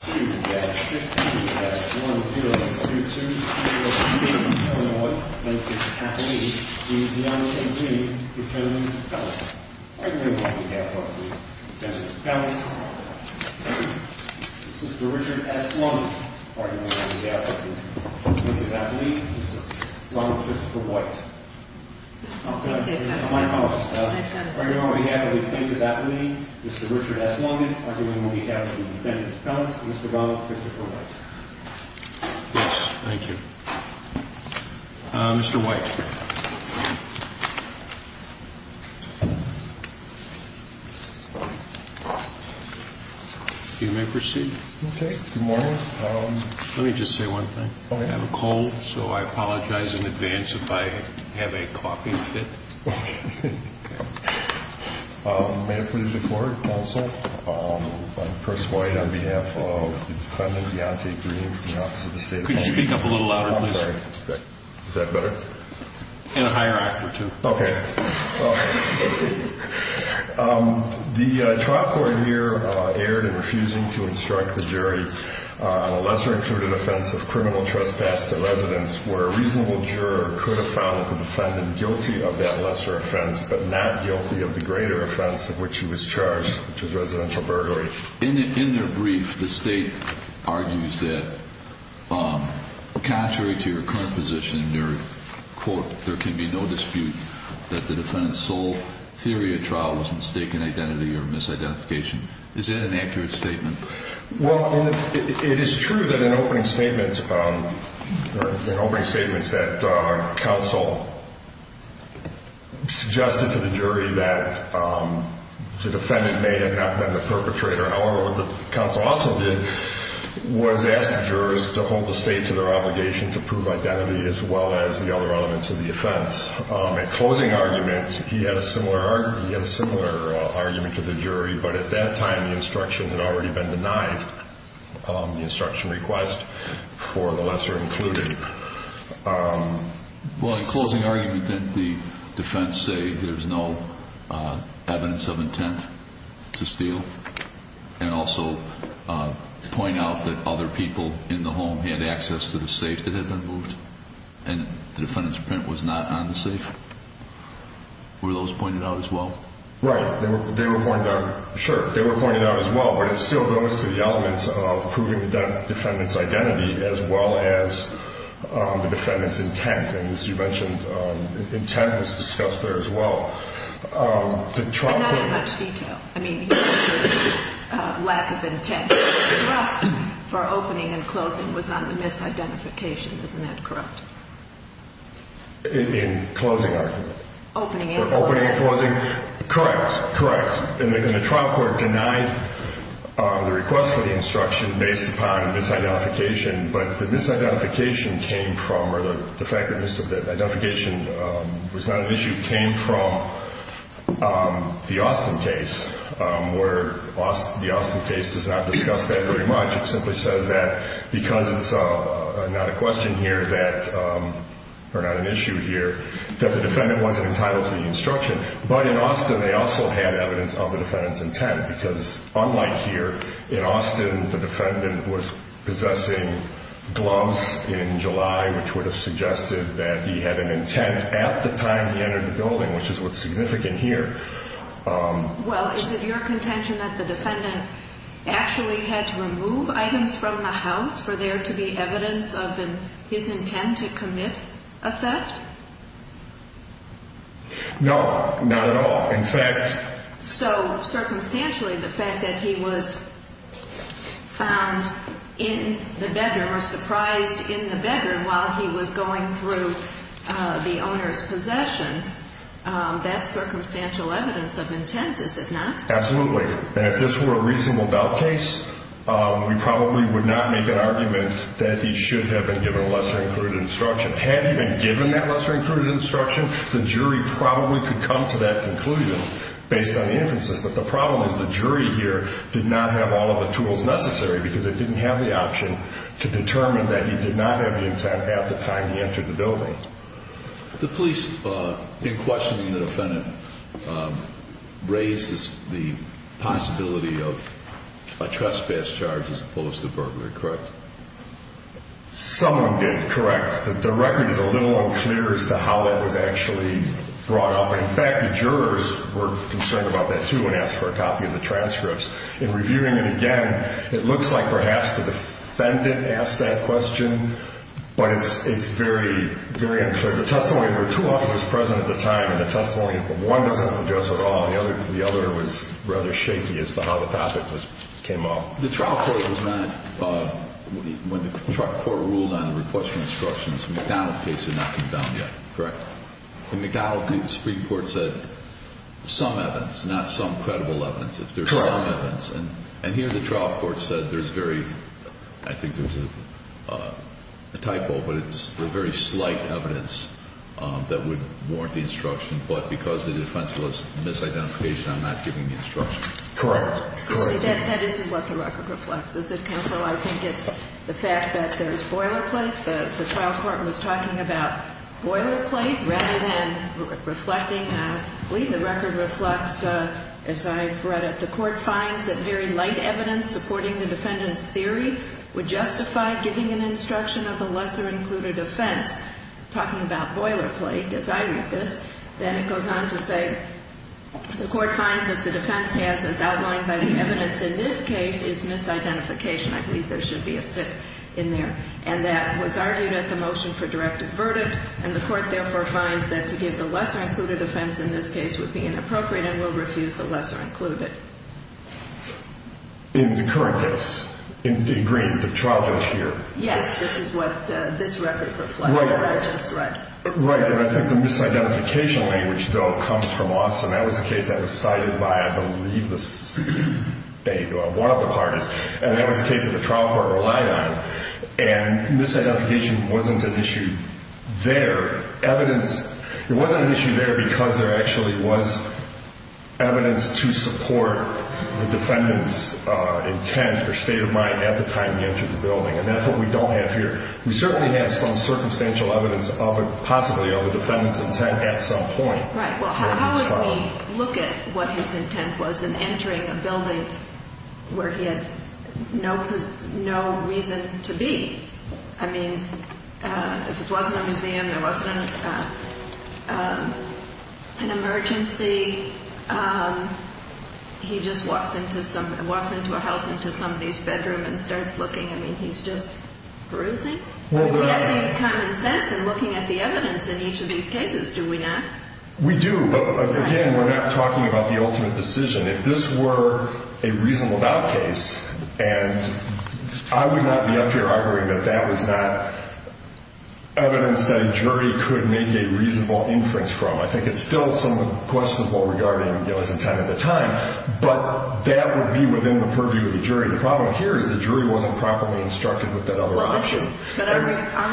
2-15-10-2203 Illinois, Mr. Katlin is the unaccompanied defendant's appellant. Arguing on behalf of the defendant's appellant, Mr. Richard S. Longin, arguing on behalf of the defendant's appellant, Mr. Ronald Christopher White. On behalf of the plaintiff's appellate, Mr. Richard S. Longin, arguing on behalf of the defendant's appellant, Mr. Ronald Christopher White. Yes, thank you. Mr. White. You may proceed. Okay, good morning. Let me just say one thing. Okay. I have a cold, so I apologize in advance if I have a coughing fit. Okay, okay. May I produce a court counsel? I'm Chris White on behalf of the defendant, Deonte Green, from the Office of the State Attorney. Could you speak up a little louder, please? I'm sorry. Is that better? And a higher act or two. Okay. The trial court here erred in refusing to instruct the jury on a lesser-included offense of criminal trespass to residence, where a reasonable juror could have found the defendant guilty of that lesser offense, but not guilty of the greater offense of which he was charged, which was residential burglary. In their brief, the State argues that contrary to your current position in your court, there can be no dispute that the defendant's sole theory of trial was mistaken identity or misidentification. Is that an accurate statement? Well, it is true that in opening statements that counsel suggested to the jury that the defendant may have not been the perpetrator. However, what the counsel also did was ask the jurors to hold the State to their obligation to prove identity as well as the other elements of the offense. In closing argument, he had a similar argument to the jury, but at that time the instruction had already been denied the instruction request for the lesser included. Well, in closing argument, didn't the defense say there's no evidence of intent to steal and also point out that other people in the home had access to the safe that had been moved and the defendant's print was not on the safe? Were those pointed out as well? Right. They were pointed out. Sure, they were pointed out as well, but it still goes to the elements of proving the defendant's identity as well as the defendant's intent. And as you mentioned, intent was discussed there as well. But not in much detail. I mean, the lack of intent for opening and closing was on the misidentification. Isn't that correct? In closing argument? Opening and closing. Correct, correct. And the trial court denied the request for the instruction based upon the misidentification, but the misidentification came from, or the fact that misidentification was not an issue, came from the Austin case, where the Austin case does not discuss that very much. It simply says that because it's not a question here that, or not an issue here, that the defendant wasn't entitled to the instruction. But in Austin they also had evidence of the defendant's intent, because unlike here, in Austin the defendant was possessing gloves in July, which would have suggested that he had an intent at the time he entered the building, which is what's significant here. Well, is it your contention that the defendant actually had to remove items from the house for there to be evidence of his intent to commit a theft? No, not at all. So, circumstantially, the fact that he was found in the bedroom, or surprised in the bedroom while he was going through the owner's possessions, that's circumstantial evidence of intent, is it not? Absolutely. And if this were a reasonable doubt case, we probably would not make an argument that he should have been given a lesser-included instruction. Had he been given that lesser-included instruction, the jury probably could come to that conclusion based on the inferences. But the problem is the jury here did not have all of the tools necessary, because they didn't have the option to determine that he did not have the intent at the time he entered the building. The police, in questioning the defendant, raised the possibility of a trespass charge as opposed to burglary, correct? Someone did, correct. The record is a little unclear as to how that was actually brought up. In fact, the jurors were concerned about that, too, and asked for a copy of the transcripts. In reviewing it again, it looks like perhaps the defendant asked that question, but it's very, very unclear. There were two officers present at the time in the testimony, but one doesn't address it at all. The other was rather shaky as to how the topic came up. The trial court was not, when the trial court ruled on the request for instructions, the McDonald case had not come down yet, correct? The McDonald case, the Supreme Court said some evidence, not some credible evidence. If there's some evidence, and here the trial court said there's very, I think there's a typo, but it's a very slight evidence that would warrant the instruction. But because the defense was misidentification, I'm not giving the instruction. Correct. Excuse me. That isn't what the record reflects, is it, counsel? I think it's the fact that there's boilerplate. The trial court was talking about boilerplate rather than reflecting. I believe the record reflects, as I've read it, the court finds that very light evidence supporting the defendant's theory would justify giving an instruction of a lesser-included offense, talking about boilerplate, as I read this. Then it goes on to say the court finds that the defense has, as outlined by the evidence in this case, is misidentification. I believe there should be a sit in there. And that was argued at the motion for direct averdict, and the court therefore finds that to give the lesser-included offense in this case would be inappropriate and will refuse the lesser-included. In the current case, in green, the trial judge here. Yes, this is what this record reflects, what I just read. Right, and I think the misidentification language, though, comes from us, and that was a case that was cited by, I believe, one of the parties, and that was a case that the trial court relied on. And misidentification wasn't an issue there. It wasn't an issue there because there actually was evidence to support the defendant's intent or state of mind at the time he entered the building, and that's what we don't have here. We certainly have some circumstantial evidence possibly of the defendant's intent at some point. Right. Well, how would we look at what his intent was in entering a building where he had no reason to be? I mean, if it wasn't a museum, there wasn't an emergency, he just walks into a house into somebody's bedroom and starts looking. I mean, he's just bruising. We have to use common sense in looking at the evidence in each of these cases, do we not? We do. Again, we're not talking about the ultimate decision. If this were a reasonable doubt case, and I would not be up here arguing that that was not evidence that a jury could make a reasonable inference from. I think it's still somewhat questionable regarding his intent at the time, but that would be within the purview of the jury. The problem here is the jury wasn't properly instructed with that other option. But our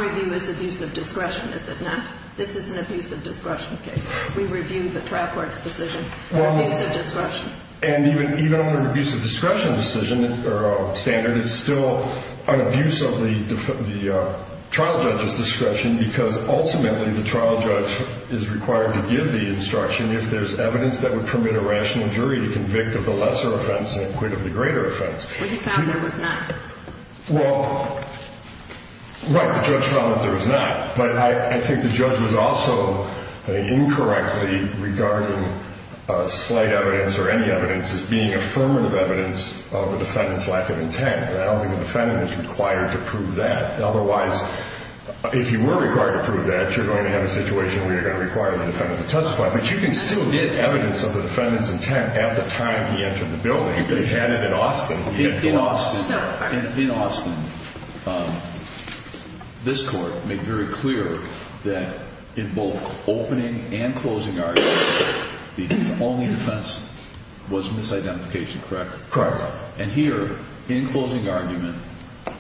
review is abuse of discretion, is it not? This is an abuse of discretion case. We reviewed the trial court's decision on abuse of discretion. And even on an abuse of discretion decision or standard, it's still an abuse of the trial judge's discretion because ultimately the trial judge is required to give the instruction if there's evidence that would permit a rational jury to convict of the lesser offense and acquit of the greater offense. But he found there was not. Well, right, the judge found that there was not. But I think the judge was also incorrectly regarding slight evidence or any evidence as being affirmative evidence of the defendant's lack of intent. I don't think the defendant is required to prove that. Otherwise, if you were required to prove that, you're going to have a situation where you're going to require the defendant to testify. But you can still get evidence of the defendant's intent at the time he entered the building. In Austin, this court made very clear that in both opening and closing arguments, the only defense was misidentification, correct? Correct. And here, in closing argument,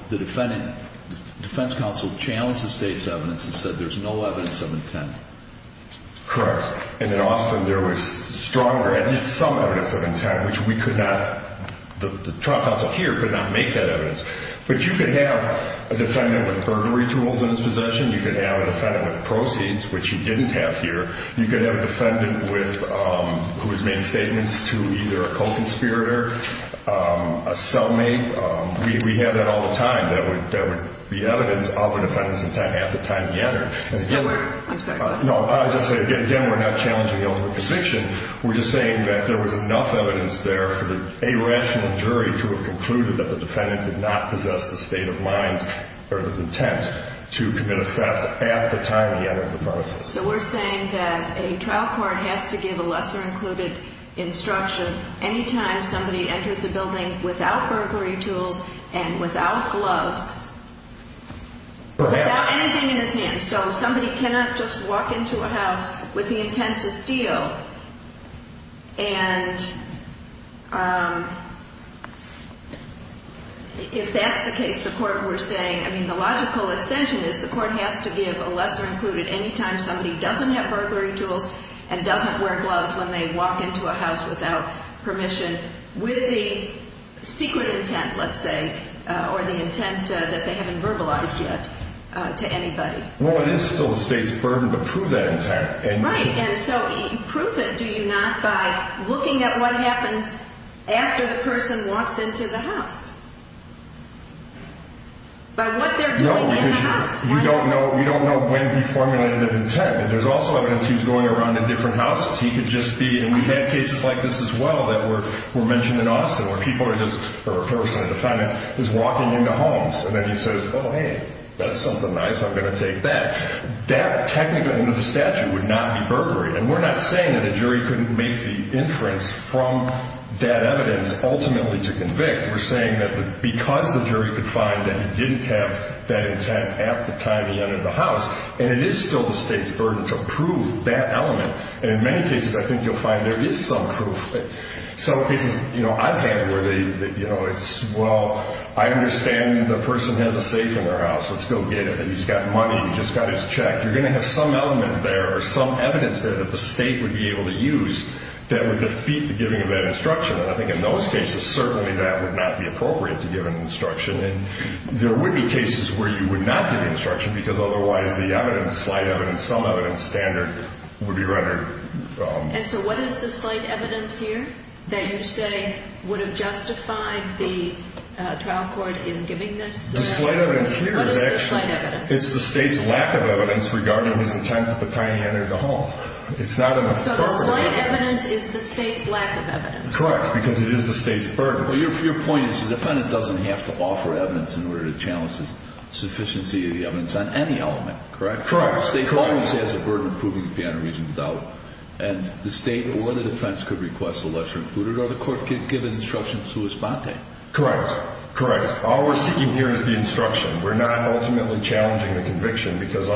the defense counsel challenged the state's evidence and said there's no evidence of intent. Correct. And in Austin, there was stronger, at least some evidence of intent, which we could not, the trial counsel here could not make that evidence. But you could have a defendant with burglary tools in his possession. You could have a defendant with proceeds, which you didn't have here. You could have a defendant with, who has made statements to either a co-conspirator, a cellmate. We have that all the time. There would be evidence of the defendant's intent at the time he entered. I'm sorry. Again, we're not challenging the ultimate conviction. We're just saying that there was enough evidence there for a rational jury to have concluded that the defendant did not possess the state of mind or the intent to commit a theft at the time he entered the premises. So we're saying that a trial court has to give a lesser-included instruction any time somebody enters a building without burglary tools and without gloves. Perhaps. Without anything in his hands. And so somebody cannot just walk into a house with the intent to steal. And if that's the case, the court, we're saying, I mean, the logical extension is the court has to give a lesser-included any time somebody doesn't have burglary tools and doesn't wear gloves when they walk into a house without permission with the secret intent, let's say, or the intent that they haven't verbalized yet to anybody. Well, it is still the state's burden, but prove that intent. Right. And so prove it, do you not, by looking at what happens after the person walks into the house? By what they're doing in the house. No, because you don't know when he formulated that intent. But there's also evidence he was going around in different houses. He could just be, and we've had cases like this as well that were mentioned in Austin, where people are just, or a person, a defendant, is walking into homes, and then he says, oh, hey, that's something nice, I'm going to take that. That technically under the statute would not be burglary. And we're not saying that a jury couldn't make the inference from that evidence ultimately to convict. We're saying that because the jury could find that he didn't have that intent at the time he entered the house, and it is still the state's burden to prove that element. And in many cases, I think you'll find there is some proof. Some cases, you know, I've had where it's, well, I understand the person has a safe in their house, let's go get it, and he's got money, he's got his check. You're going to have some element there or some evidence there that the state would be able to use that would defeat the giving of that instruction. And I think in those cases, certainly that would not be appropriate to give an instruction. And there would be cases where you would not give the instruction because otherwise the evidence, the slight evidence, some evidence standard would be rendered. And so what is the slight evidence here that you say would have justified the trial court in giving this? The slight evidence here is actually. What is the slight evidence? It's the state's lack of evidence regarding his intent at the time he entered the home. It's not an affirmative. So the slight evidence is the state's lack of evidence. Correct, because it is the state's burden. Well, your point is the defendant doesn't have to offer evidence in order to challenge the sufficiency of the evidence on any element, correct? Correct. The state always has a burden proving to be on a reasonable doubt. And the state or the defense could request a lesser included or the court could give an instruction sua sponte. Correct. Correct. All we're seeking here is the instruction. We're not ultimately challenging the conviction because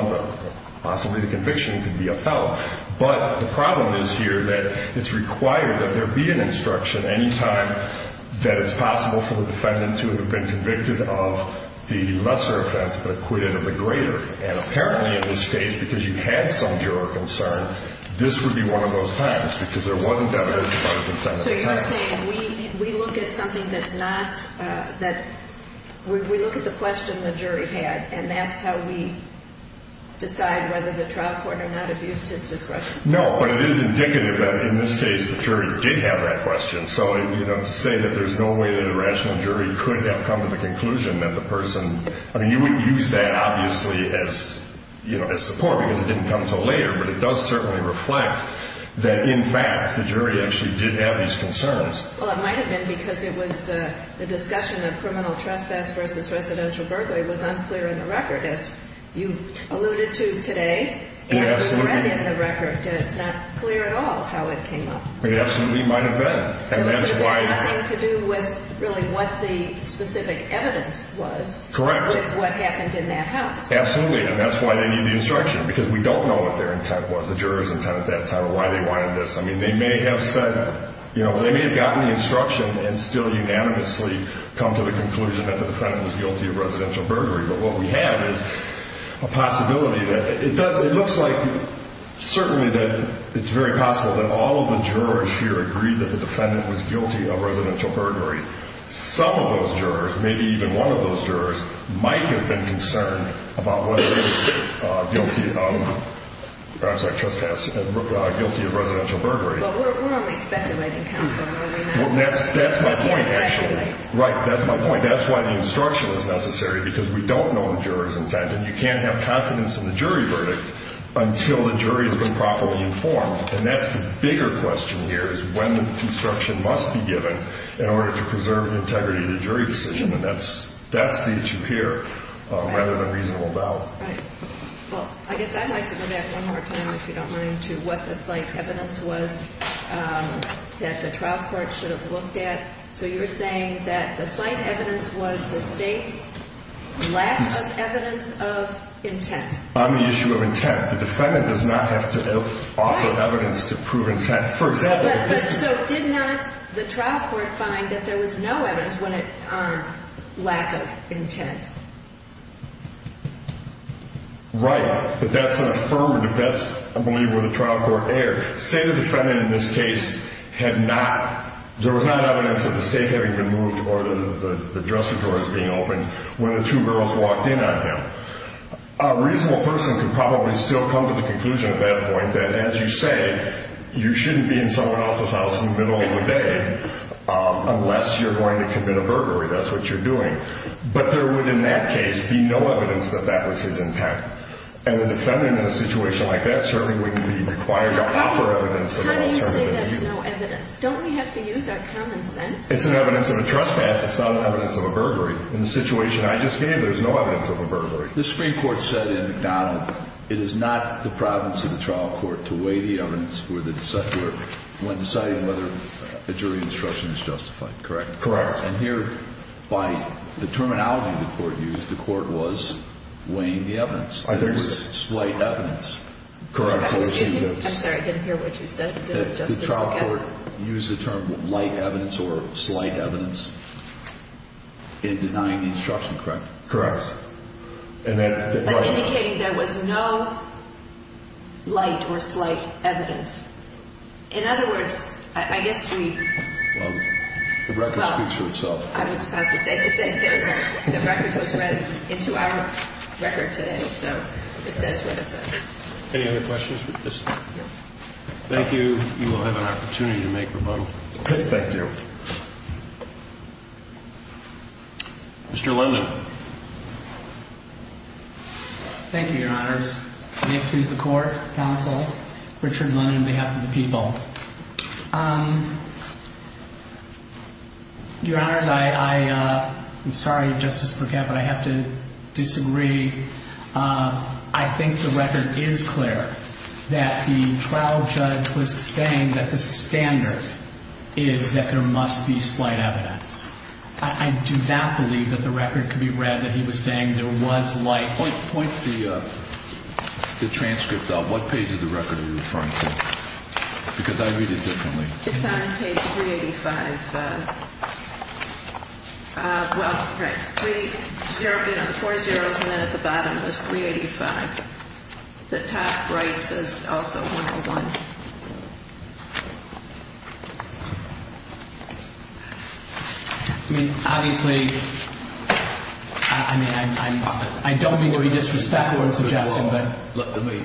possibly the conviction could be upheld. But the problem is here that it's required that there be an instruction any time that it's possible for the defendant to have been convicted of the lesser offense but acquitted of the greater. And apparently in this case, because you had some juror concern, this would be one of those times because there wasn't evidence about his intent at the time. So you're saying we look at something that's not that we look at the question the jury had and that's how we decide whether the trial court or not abused his discretion? No, but it is indicative that in this case the jury did have that question. So, you know, to say that there's no way that a rational jury could have come to the conclusion that the person, I mean, you wouldn't use that obviously as, you know, as support because it didn't come until later. But it does certainly reflect that, in fact, the jury actually did have these concerns. Well, it might have been because it was the discussion of criminal trespass versus residential burglary was unclear in the record, as you alluded to today. Absolutely. And it's not clear at all how it came up. It absolutely might have been. So it had nothing to do with really what the specific evidence was. Correct. With what happened in that house. Absolutely. And that's why they need the instruction because we don't know what their intent was, the juror's intent at that time, or why they wanted this. I mean, they may have said, you know, they may have gotten the instruction and still unanimously come to the conclusion that the defendant was guilty of residential burglary. But what we have is a possibility that it does. It looks like certainly that it's very possible that all of the jurors here agree that the defendant was guilty of residential burglary. Some of those jurors, maybe even one of those jurors, might have been concerned about what it is guilty of, perhaps like trespass, guilty of residential burglary. Well, we're only speculating, counsel. That's my point. Right. That's my point. And that's why the instruction was necessary because we don't know the juror's intent. And you can't have confidence in the jury verdict until the jury has been properly informed. And that's the bigger question here is when the instruction must be given in order to preserve the integrity of the jury decision. And that's the issue here rather than reasonable doubt. Right. Well, I guess I'd like to go back one more time, if you don't mind, to what the slight evidence was that the trial court should have looked at. So you were saying that the slight evidence was the state's lack of evidence of intent. On the issue of intent. The defendant does not have to offer evidence to prove intent. For example. So did not the trial court find that there was no evidence when it, lack of intent? Right. But that's an affirmative. That's, I believe, where the trial court erred. Say the defendant in this case had not, there was not evidence of the safe having been moved or the dresser drawers being opened when the two girls walked in on him. A reasonable person could probably still come to the conclusion at that point that, as you say, you shouldn't be in someone else's house in the middle of the day unless you're going to commit a burglary. That's what you're doing. But there would, in that case, be no evidence that that was his intent. And the defendant in a situation like that certainly wouldn't be required to offer evidence. How do you say that's no evidence? Don't we have to use our common sense? It's an evidence of a trespass. It's not an evidence of a burglary. In the situation I just gave, there's no evidence of a burglary. The Supreme Court said in McDonald, it is not the province of the trial court to weigh the evidence for the decedent when deciding whether a jury instruction is justified. Correct? Correct. And here, by the terminology the court used, the court was weighing the evidence. There was slight evidence. Correct. Excuse me. I'm sorry. I didn't hear what you said. The trial court used the term light evidence or slight evidence in denying the instruction, correct? Correct. But indicating there was no light or slight evidence. In other words, I guess we... Well, the record speaks for itself. I was about to say the same thing. The record goes right into our record today, so it says what it says. Any other questions with this? No. Thank you. You will have an opportunity to make rebuttal. Thank you. Mr. Linden. Thank you, Your Honors. Nick, please, the court. Counsel. Richard Linden on behalf of the people. Your Honors, I'm sorry, Justice Burkett, but I have to disagree. I think the record is clear that the trial judge was saying that the standard is that there must be slight evidence. I do not believe that the record could be read that he was saying there was light. Point the transcript out. What page of the record are you referring to? Because I read it differently. It's on page 385. Well, right. Three zeros, four zeros, and then at the bottom it was 385. The top right says also 101. I mean, obviously, I mean, I don't mean to be disrespectful in suggesting that. Let me.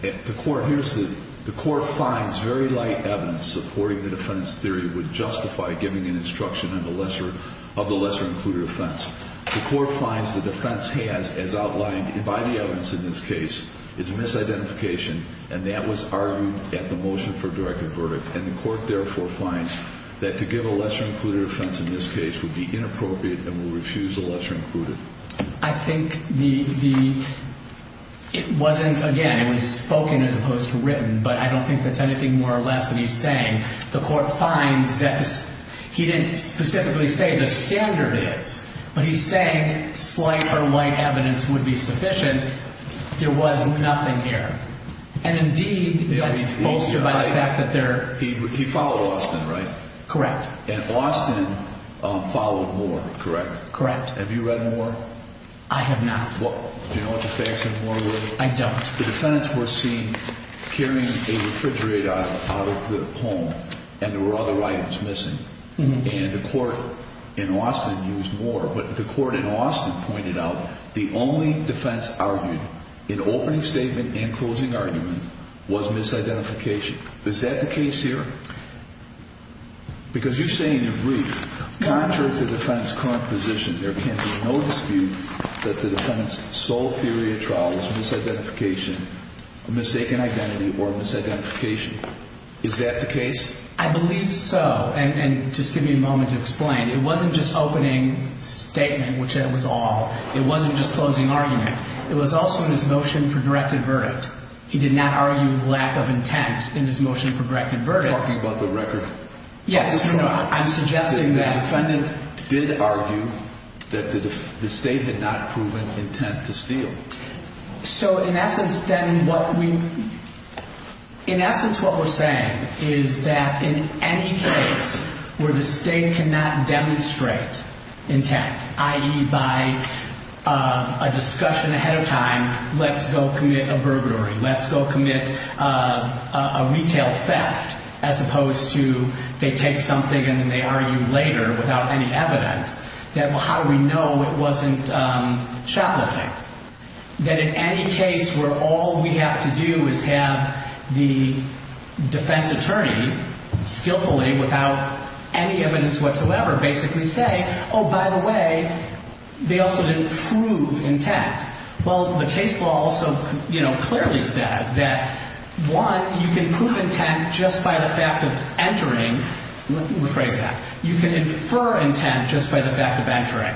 The court finds very light evidence supporting the defense theory would justify giving an instruction of the lesser included offense. The court finds the defense has, as outlined by the evidence in this case, is a misidentification, and that was argued at the motion for directed verdict. And the court, therefore, finds that to give a lesser included offense in this case would be inappropriate and would refuse a lesser included. I think the it wasn't again, it was spoken as opposed to written, but I don't think that's anything more or less than he's saying. The court finds that he didn't specifically say the standard is, but he's saying slight or light evidence would be sufficient. And there was nothing here. And indeed, that's bolstered by the fact that there. He followed Austin, right? Correct. And Austin followed Moore, correct? Correct. Have you read Moore? I have not. Do you know what the facts of Moore were? I don't. The defendants were seen carrying a refrigerator out of the home and there were other items missing. And the court in Austin used Moore. But the court in Austin pointed out the only defense argued in opening statement and closing argument was misidentification. Is that the case here? Because you say in your brief, contrary to the defendant's current position, there can be no dispute that the defendant's sole theory of trial is misidentification, a mistaken identity, or misidentification. Is that the case? I believe so. And just give me a moment to explain. It wasn't just opening statement, which that was all. It wasn't just closing argument. It was also in his motion for directed verdict. He did not argue lack of intent in his motion for directed verdict. Are you talking about the record? Yes. No, no. I'm suggesting that. The defendant did argue that the state had not proven intent to steal. So in essence, then, what we're saying is that in any case where the state cannot demonstrate intent, i.e., by a discussion ahead of time, let's go commit a burglary, let's go commit a retail theft, as opposed to they take something and then they argue later without any evidence, that how do we know it wasn't shoplifting? That in any case where all we have to do is have the defense attorney skillfully, without any evidence whatsoever, basically say, oh, by the way, they also didn't prove intent. Well, the case law also clearly says that, one, you can prove intent just by the fact of entering. Let me rephrase that. You can infer intent just by the fact of entering.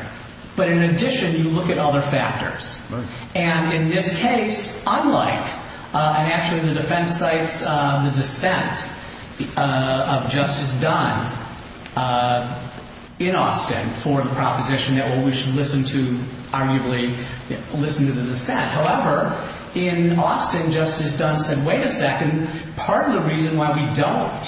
But in addition, you look at other factors. Right. And in this case, unlike, and actually the defense cites the dissent of Justice Dunn in Austin for the proposition that we should listen to, arguably listen to the dissent. However, in Austin, Justice Dunn said, wait a second, part of the reason why we don't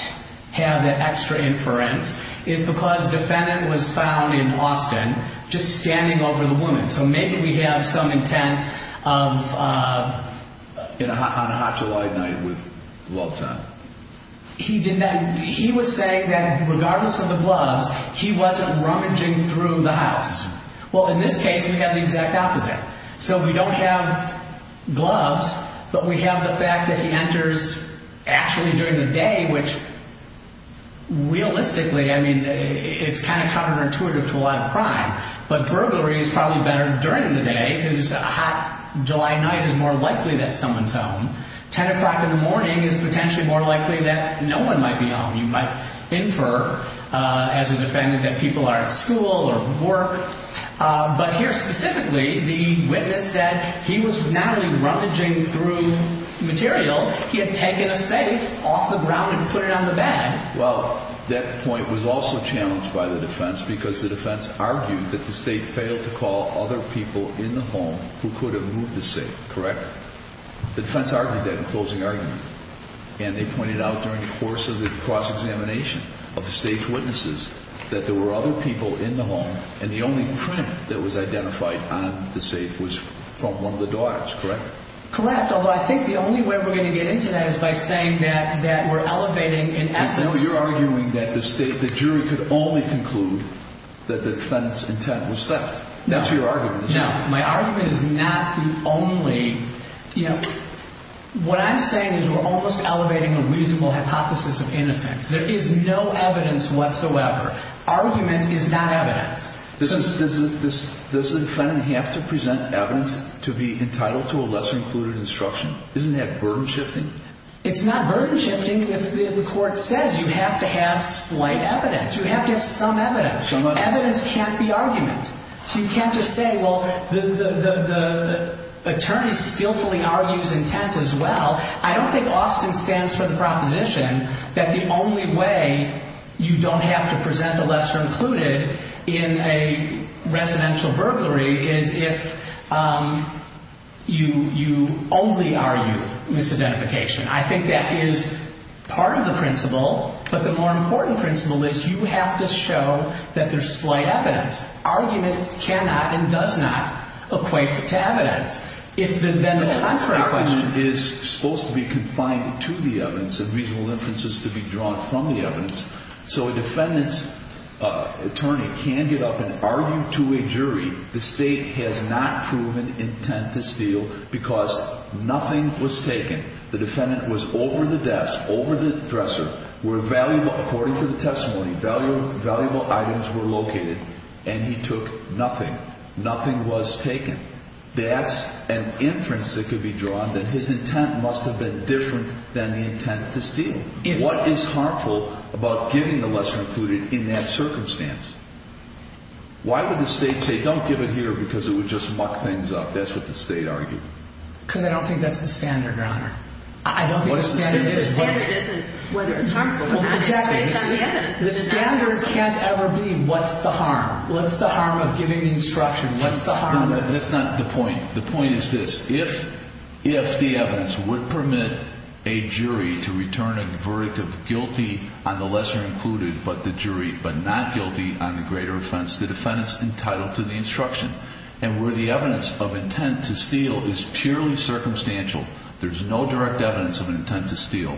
have the extra inference is because the defendant was found in Austin just standing over the woman. So maybe we have some intent of... On a hot July night with love time. He was saying that regardless of the gloves, he wasn't rummaging through the house. Well, in this case, we have the exact opposite. So we don't have gloves, but we have the fact that he enters actually during the day, which realistically, I mean, it's kind of counterintuitive to a lot of crime. But burglary is probably better during the day because a hot July night is more likely that someone's home. Ten o'clock in the morning is potentially more likely that no one might be home. You might infer as a defendant that people are at school or work. But here specifically, the witness said he was not only rummaging through material, he had taken a safe off the ground and put it on the bed. Well, that point was also challenged by the defense because the defense argued that the state failed to call other people in the home who could have moved the safe. Correct? The defense argued that in closing argument. And they pointed out during the course of the cross-examination of the state's witnesses that there were other people in the home. And the only print that was identified on the safe was from one of the daughters, correct? Correct. Although I think the only way we're going to get into that is by saying that that we're elevating in essence. You're arguing that the state, the jury could only conclude that the defendant's intent was theft. That's your argument. Now, my argument is not the only. What I'm saying is we're almost elevating a reasonable hypothesis of innocence. There is no evidence whatsoever. Argument is not evidence. Does the defendant have to present evidence to be entitled to a lesser included instruction? Isn't that burden shifting? It's not burden shifting if the court says you have to have slight evidence. You have to have some evidence. Evidence can't be argument. So you can't just say, well, the attorney skillfully argues intent as well. I don't think Austin stands for the proposition that the only way you don't have to present a lesser included in a residential burglary is if you only argue misidentification. I think that is part of the principle. But the more important principle is you have to show that there's slight evidence. Argument cannot and does not equate to evidence. If then the contrary question is supposed to be confined to the evidence and reasonable inferences to be drawn from the evidence. So a defendant's attorney can get up and argue to a jury the state has not proven intent to steal because nothing was taken. The defendant was over the desk, over the dresser where valuable, according to the testimony, valuable items were located. And he took nothing. Nothing was taken. That's an inference that could be drawn that his intent must have been different than the intent to steal. What is harmful about giving the lesser included in that circumstance? Why would the state say don't give it here because it would just muck things up? That's what the state argued. Because I don't think that's the standard, Your Honor. I don't think the standard is. The standard isn't whether it's harmful or not. It's based on the evidence. The standard can't ever be what's the harm. What's the harm of giving the instruction? What's the harm? That's not the point. The point is this. If the evidence would permit a jury to return a verdict of guilty on the lesser included but the jury but not guilty on the greater offense, the defendant's entitled to the instruction. And where the evidence of intent to steal is purely circumstantial, there's no direct evidence of intent to steal,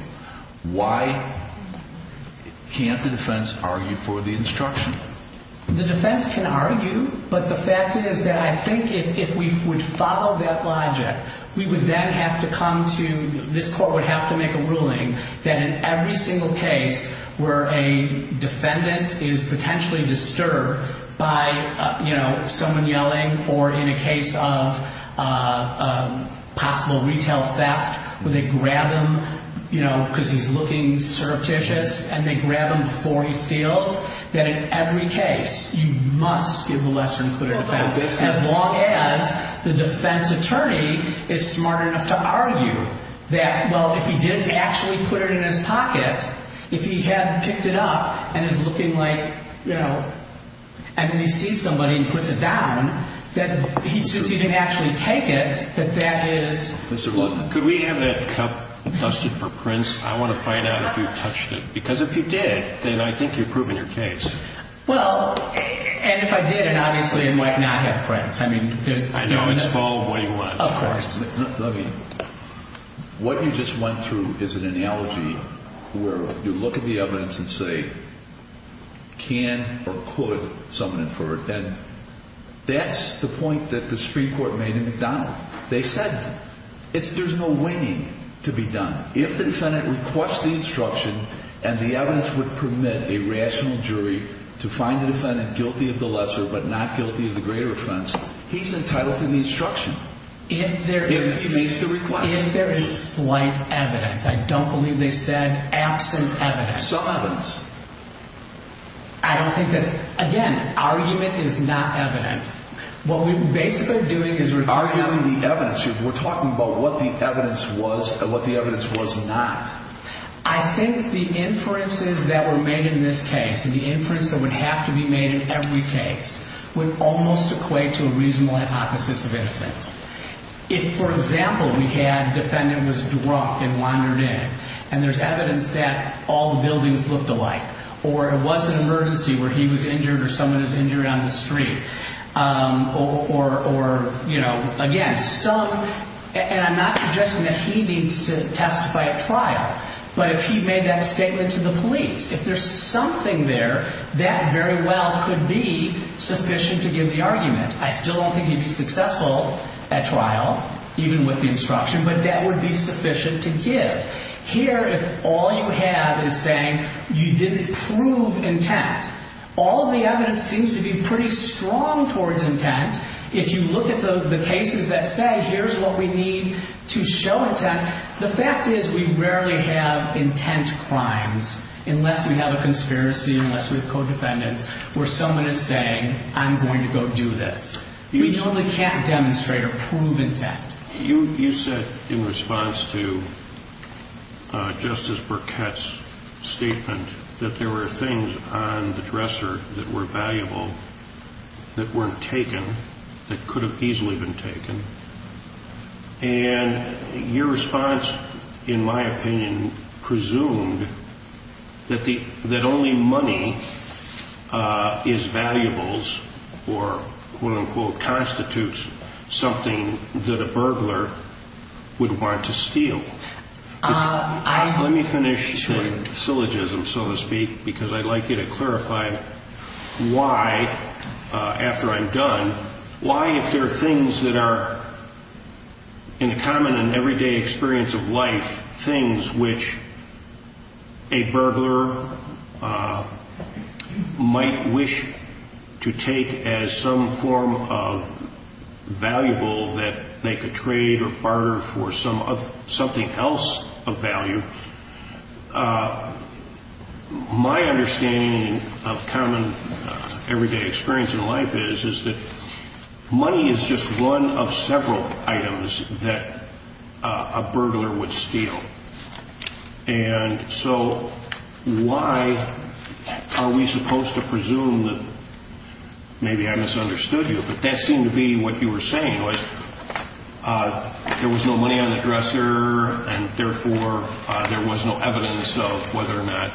why can't the defense argue for the instruction? The defense can argue. But the fact is that I think if we would follow that logic, we would then have to come to this court would have to make a ruling that in every single case where a defendant is potentially disturbed by, you know, someone yelling or in a case of possible retail theft where they grab him, you know, because he's looking surreptitious and they grab him before he steals, that in every case you must give a lesser included offense as long as the defense attorney is smart enough to argue that, well, if he didn't actually put it in his pocket, if he had picked it up and is looking like, you know, and then he sees somebody and puts it down, that he didn't actually take it, that that is. Could we have that cup dusted for Prince? I want to find out if you touched it, because if you did, then I think you've proven your case. Well, and if I did, and obviously it might not have Prince. I mean, I know it's all what he wants. Of course. What you just went through is an analogy where you look at the evidence and say, can or could someone infer it? And that's the point that the Supreme Court made in McDonald. They said it's there's no way to be done. If the defendant requests the instruction and the evidence would permit a rational jury to find the defendant guilty of the lesser but not guilty of the greater offense, he's entitled to the instruction. If there is slight evidence, I don't believe they said absent evidence. Some evidence. I don't think that, again, argument is not evidence. What we're basically doing is we're arguing the evidence. We're talking about what the evidence was and what the evidence was not. I think the inferences that were made in this case and the inference that would have to be made in every case would almost equate to a reasonable hypothesis of innocence. If, for example, we had defendant was drunk and wandered in and there's evidence that all the buildings looked alike or it was an emergency where he was injured or someone is injured on the street or, you know, again, some. And I'm not suggesting that he needs to testify at trial. But if he made that statement to the police, if there's something there that very well could be sufficient to give the argument. I still don't think he'd be successful at trial, even with the instruction, but that would be sufficient to give. Here, if all you have is saying you didn't prove intent, all the evidence seems to be pretty strong towards intent. If you look at the cases that say here's what we need to show intent. The fact is we rarely have intent crimes unless we have a conspiracy, unless we have co-defendants where someone is saying, I'm going to go do this. You only can't demonstrate or prove intent. You said in response to Justice Burkett's statement that there were things on the dresser that were valuable that weren't taken, that could have easily been taken. And your response, in my opinion, presumed that only money is valuables or, quote, unquote, constitutes something that a burglar would want to steal. Let me finish the syllogism, so to speak, because I'd like you to clarify why, after I'm done, why, if there are things that are in the common and everyday experience of life, things which a burglar might wish to take as some form of valuable that they could trade or barter for something else of value, my understanding of common everyday experience in life is that money is just one of several items that a burglar would steal. And so why are we supposed to presume that, maybe I misunderstood you, but that seemed to be what you were saying was there was no money on the dresser, and therefore there was no evidence of whether or not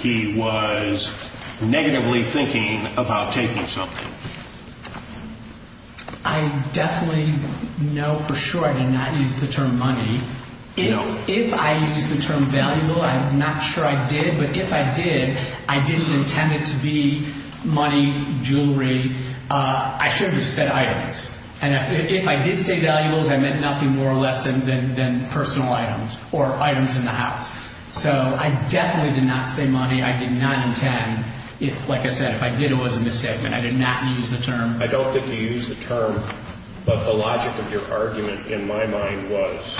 he was negatively thinking about taking something. I definitely know for sure I did not use the term money. If I used the term valuable, I'm not sure I did. But if I did, I didn't intend it to be money, jewelry. I should have just said items. And if I did say valuables, I meant nothing more or less than personal items or items in the house. So I definitely did not say money. I did not intend. Like I said, if I did, it was a misstatement. I did not use the term. I don't think you used the term, but the logic of your argument in my mind was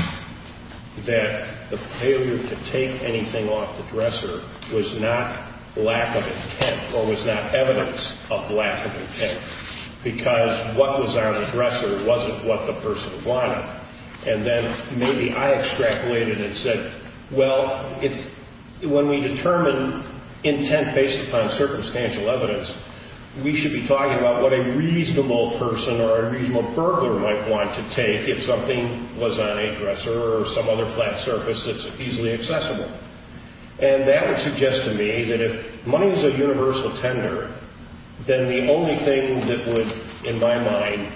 that the failure to take anything off the dresser was not lack of intent or was not evidence of lack of intent, because what was on the dresser wasn't what the person wanted. And then maybe I extrapolated and said, well, when we determine intent based upon circumstantial evidence, we should be talking about what a reasonable person or a reasonable burglar might want to take if something was on a dresser or some other flat surface that's easily accessible. And that would suggest to me that if money is a universal tender, then the only thing that would, in my mind,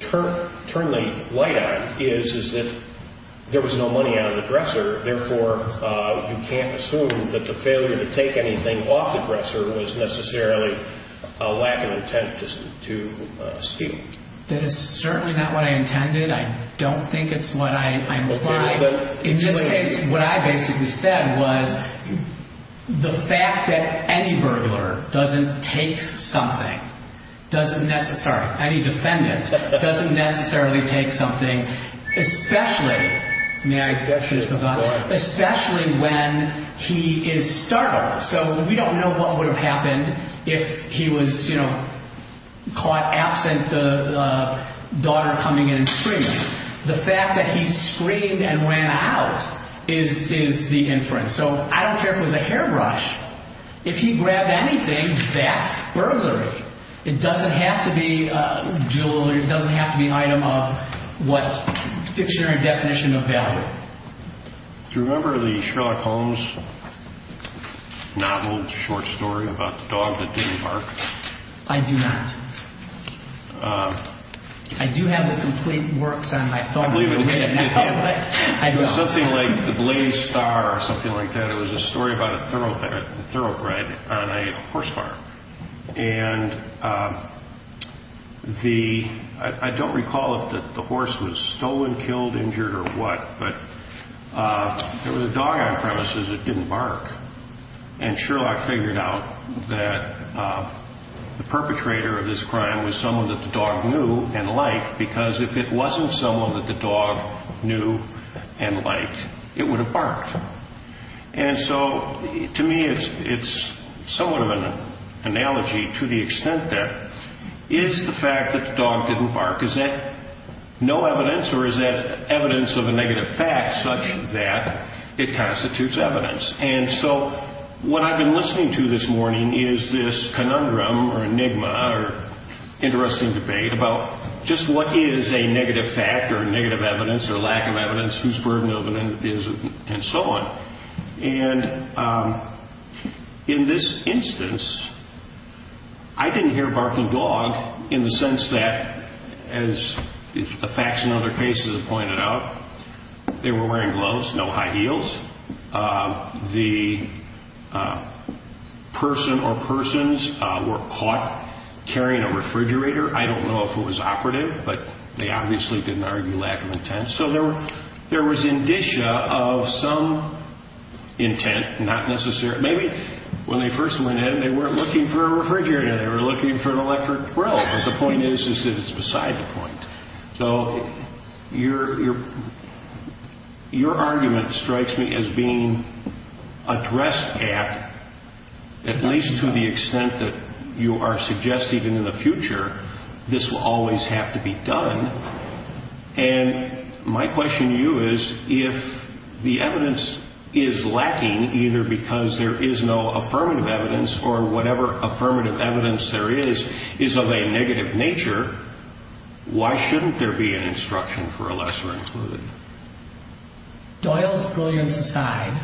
turn the light on is that there was no money on the dresser. Therefore, you can't assume that the failure to take anything off the dresser was necessarily a lack of intent to steal. That is certainly not what I intended. I don't think it's what I implied. In this case, what I basically said was the fact that any burglar doesn't take something doesn't necessarily, sorry, any defendant doesn't necessarily take something, especially when he is startled. So we don't know what would have happened if he was caught absent the daughter coming in and screaming. The fact that he screamed and ran out is the inference. So I don't care if it was a hairbrush. If he grabbed anything, that's burglary. It doesn't have to be jewelry. It doesn't have to be an item of what dictionary definition of value. Do you remember the Sherlock Holmes novel short story about the dog that didn't bark? I do not. I do have the complete works on my phone. I believe it is. I don't. It was something like the Blaze Star or something like that. It was a story about a thoroughbred on a horse farm. And I don't recall if the horse was stolen, killed, injured or what, but there was a dog on premises that didn't bark. And Sherlock figured out that the perpetrator of this crime was someone that the dog knew and liked, because if it wasn't someone that the dog knew and liked, it would have barked. And so to me it's somewhat of an analogy to the extent that is the fact that the dog didn't bark, is that no evidence or is that evidence of a negative fact such that it constitutes evidence? And so what I've been listening to this morning is this conundrum or enigma or interesting debate about just what is a negative fact or negative evidence or lack of evidence, whose burden of evidence is it, and so on. And in this instance, I didn't hear barking dog in the sense that, as the facts in other cases have pointed out, they were wearing gloves, no high heels. The person or persons were caught carrying a refrigerator. I don't know if it was operative, but they obviously didn't argue lack of intent. So there was indicia of some intent, not necessarily. Maybe when they first went in, they weren't looking for a refrigerator. They were looking for an electric grill, but the point is that it's beside the point. So your argument strikes me as being addressed at, at least to the extent that you are suggesting in the future, this will always have to be done. And my question to you is, if the evidence is lacking, either because there is no affirmative evidence or whatever affirmative evidence there is, is of a negative nature, why shouldn't there be an instruction for a lesser included? Doyle's brilliance aside.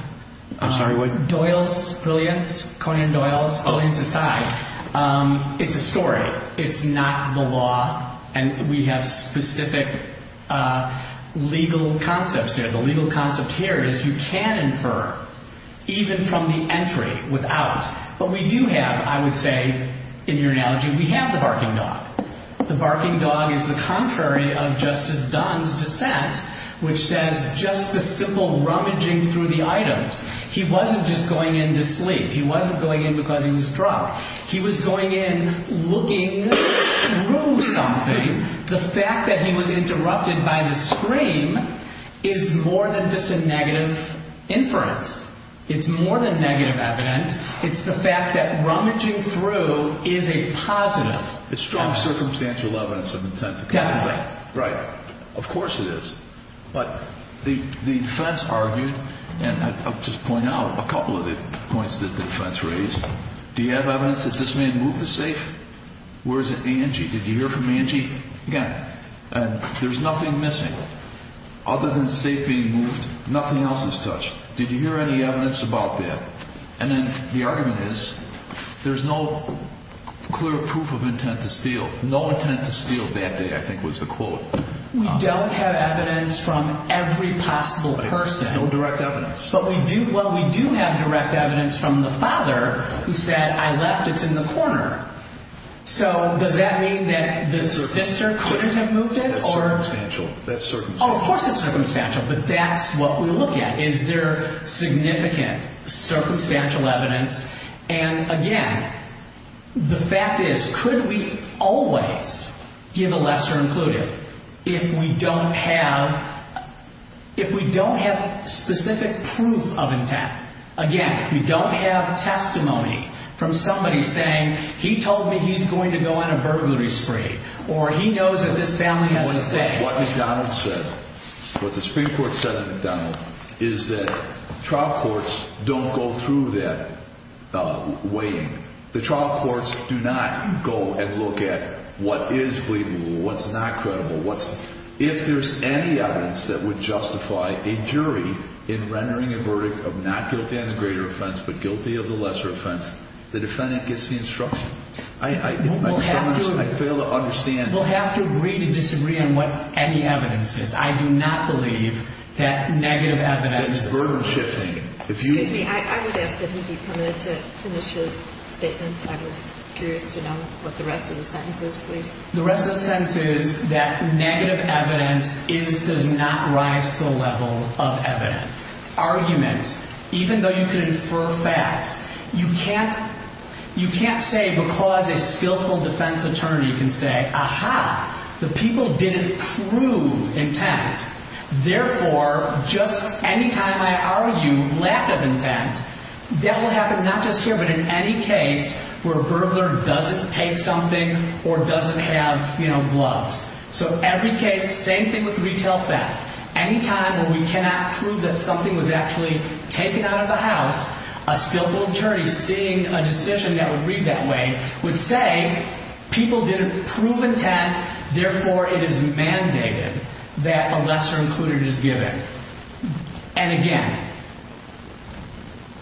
I'm sorry, what? Doyle's brilliance, Conan Doyle's brilliance aside, it's a story. It's not the law, and we have specific legal concepts here. The legal concept here is you can infer, even from the entry, without. But we do have, I would say, in your analogy, we have the barking dog. The barking dog is the contrary of Justice Dunn's dissent, which says just the simple rummaging through the items. He wasn't just going in to sleep. He wasn't going in because he was drunk. He was going in looking through something. The fact that he was interrupted by the scream is more than just a negative inference. It's more than negative evidence. It's the fact that rummaging through is a positive evidence. It's strong circumstantial evidence of intent. Definitely. Right. Of course it is. But the defense argued, and I'll just point out a couple of the points that the defense raised. Do you have evidence that this man moved the safe? Where is it? A&G. Did you hear from A&G? Again, there's nothing missing other than the safe being moved. Nothing else is touched. Did you hear any evidence about that? And then the argument is there's no clear proof of intent to steal. No intent to steal that day, I think, was the quote. We don't have evidence from every possible person. No direct evidence. Well, we do have direct evidence from the father who said, I left it in the corner. So does that mean that the sister couldn't have moved it? That's circumstantial. Oh, of course it's circumstantial. But that's what we look at. Is there significant circumstantial evidence? And again, the fact is, could we always give a lesser included if we don't have specific proof of intent? Again, we don't have testimony from somebody saying, he told me he's going to go on a burglary spree. Or he knows that this family has a safe. What the Supreme Court said in McDonald is that trial courts don't go through that weighing. The trial courts do not go and look at what is believable, what's not credible. If there's any evidence that would justify a jury in rendering a verdict of not guilty on the greater offense but guilty of the lesser offense, the defendant gets the instruction. I fail to understand. We'll have to agree to disagree on what any evidence is. I do not believe that negative evidence. That's burden-shifting. Excuse me, I would ask that he be permitted to finish his statement. I was curious to know what the rest of the sentence is, please. The rest of the sentence is that negative evidence does not rise to the level of evidence. Even though you can infer facts, you can't say because a skillful defense attorney can say, aha, the people didn't prove intent. Therefore, just any time I argue lack of intent, that will happen not just here but in any case where a burglar doesn't take something or doesn't have gloves. So every case, same thing with retail theft. Any time where we cannot prove that something was actually taken out of the house, a skillful attorney seeing a decision that would read that way would say people didn't prove intent. Therefore, it is mandated that a lesser included is given. And again,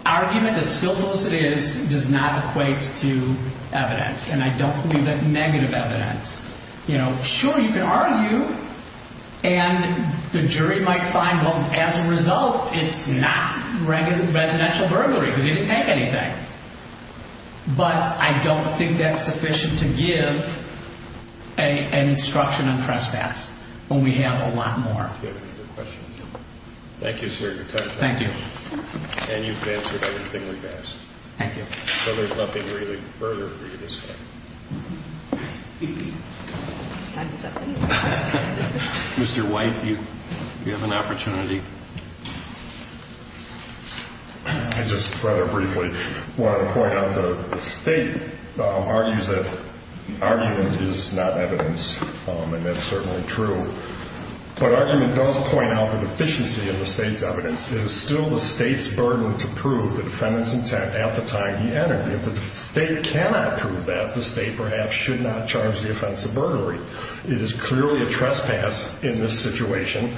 argument as skillful as it is does not equate to evidence. And I don't believe that negative evidence. Sure, you can argue and the jury might find, well, as a result, it's not residential burglary because he didn't take anything. But I don't think that's sufficient to give an instruction on trespass when we have a lot more. Thank you, sir. Thank you. And you've answered everything we've asked. Thank you. So there's nothing really further for you to say. Mr. White, you have an opportunity. I just rather briefly want to point out the State argues that argument is not evidence, and that's certainly true. But argument does point out the deficiency in the State's evidence. It is still the State's burden to prove the defendant's intent at the time he entered. If the State cannot prove that, the State perhaps should not charge the offense of burglary. It is clearly a trespass in this situation.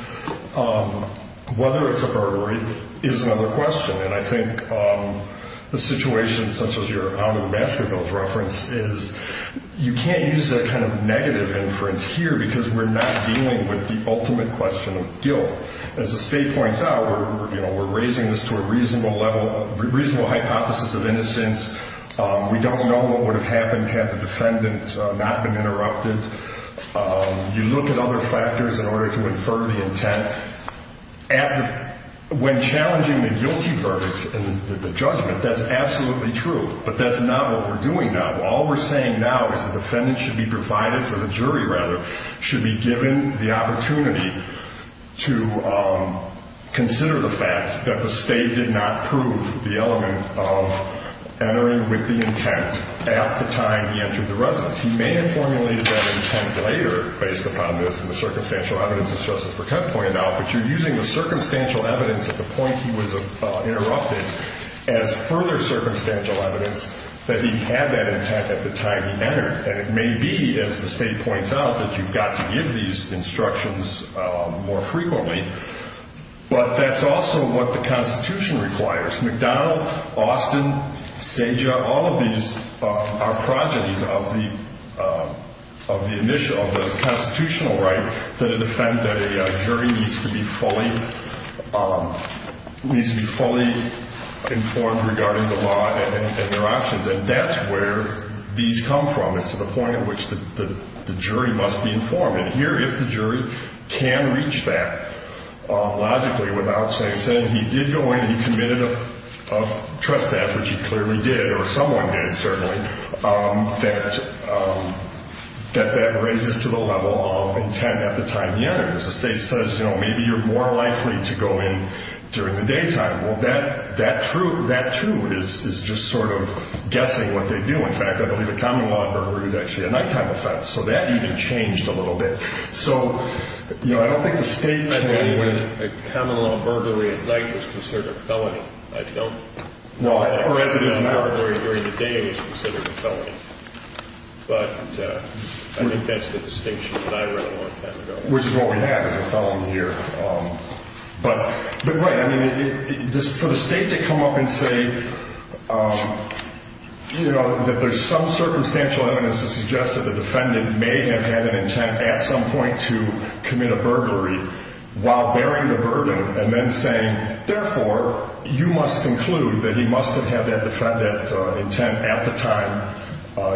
Whether it's a burglary is another question. And I think the situation, such as your out-of-the-basket bills reference, is you can't use that kind of negative inference here because we're not dealing with the ultimate question of guilt. As the State points out, we're raising this to a reasonable hypothesis of innocence. We don't know what would have happened had the defendant not been interrupted. You look at other factors in order to infer the intent. When challenging the guilty verdict in the judgment, that's absolutely true. But that's not what we're doing now. All we're saying now is the defendant should be provided, or the jury rather, should be given the opportunity to consider the fact that the State did not prove the element of entering with the intent at the time he entered the residence. He may have formulated that intent later based upon this and the circumstantial evidence, as Justice Burkett pointed out. But you're using the circumstantial evidence at the point he was interrupted as further circumstantial evidence that he had that intent at the time he entered. And it may be, as the State points out, that you've got to give these instructions more frequently. But that's also what the Constitution requires. McDonald, Austin, Sajak, all of these are progenies of the constitutional right that a jury needs to be fully informed regarding the law and their options. And that's where these come from, is to the point at which the jury must be informed. And here, if the jury can reach that logically without, say, saying he did go in and he committed a trespass, which he clearly did, or someone did, certainly, that that raises to the level of intent at the time he entered. Because the State says, you know, maybe you're more likely to go in during the daytime. Well, that too is just sort of guessing what they do. In fact, I believe a common law inverter is actually a nighttime offense. So that even changed a little bit. So, you know, I don't think the State meant that when a common law invertery at night was considered a felony. I don't. Well, as it is now. A residence invertery during the day is considered a felony. But I think that's the distinction that I read a long time ago. Which is what we have, is a felony here. But, right, I mean, for the State to come up and say, you know, that there's some circumstantial evidence to suggest that the defendant may have had an intent at some point to commit a burglary while bearing the burden. And then saying, therefore, you must conclude that he must have had that intent at the time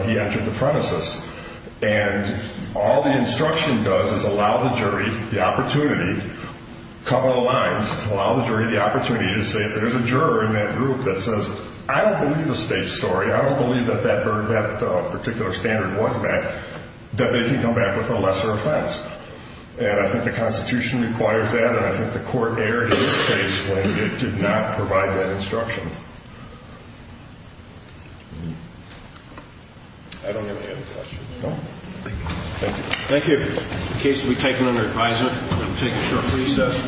he entered the premises. And all the instruction does is allow the jury the opportunity, cover the lines, allow the jury the opportunity to say, if there's a juror in that group that says, I don't believe the State's story. I don't believe that that particular standard was met. That they can come back with a lesser offense. And I think the Constitution requires that. And I think the Court erred in this case when it did not provide that instruction. I don't have any other questions. No? Thank you. Thank you. The case will be taken under advisement. We'll take a short recess.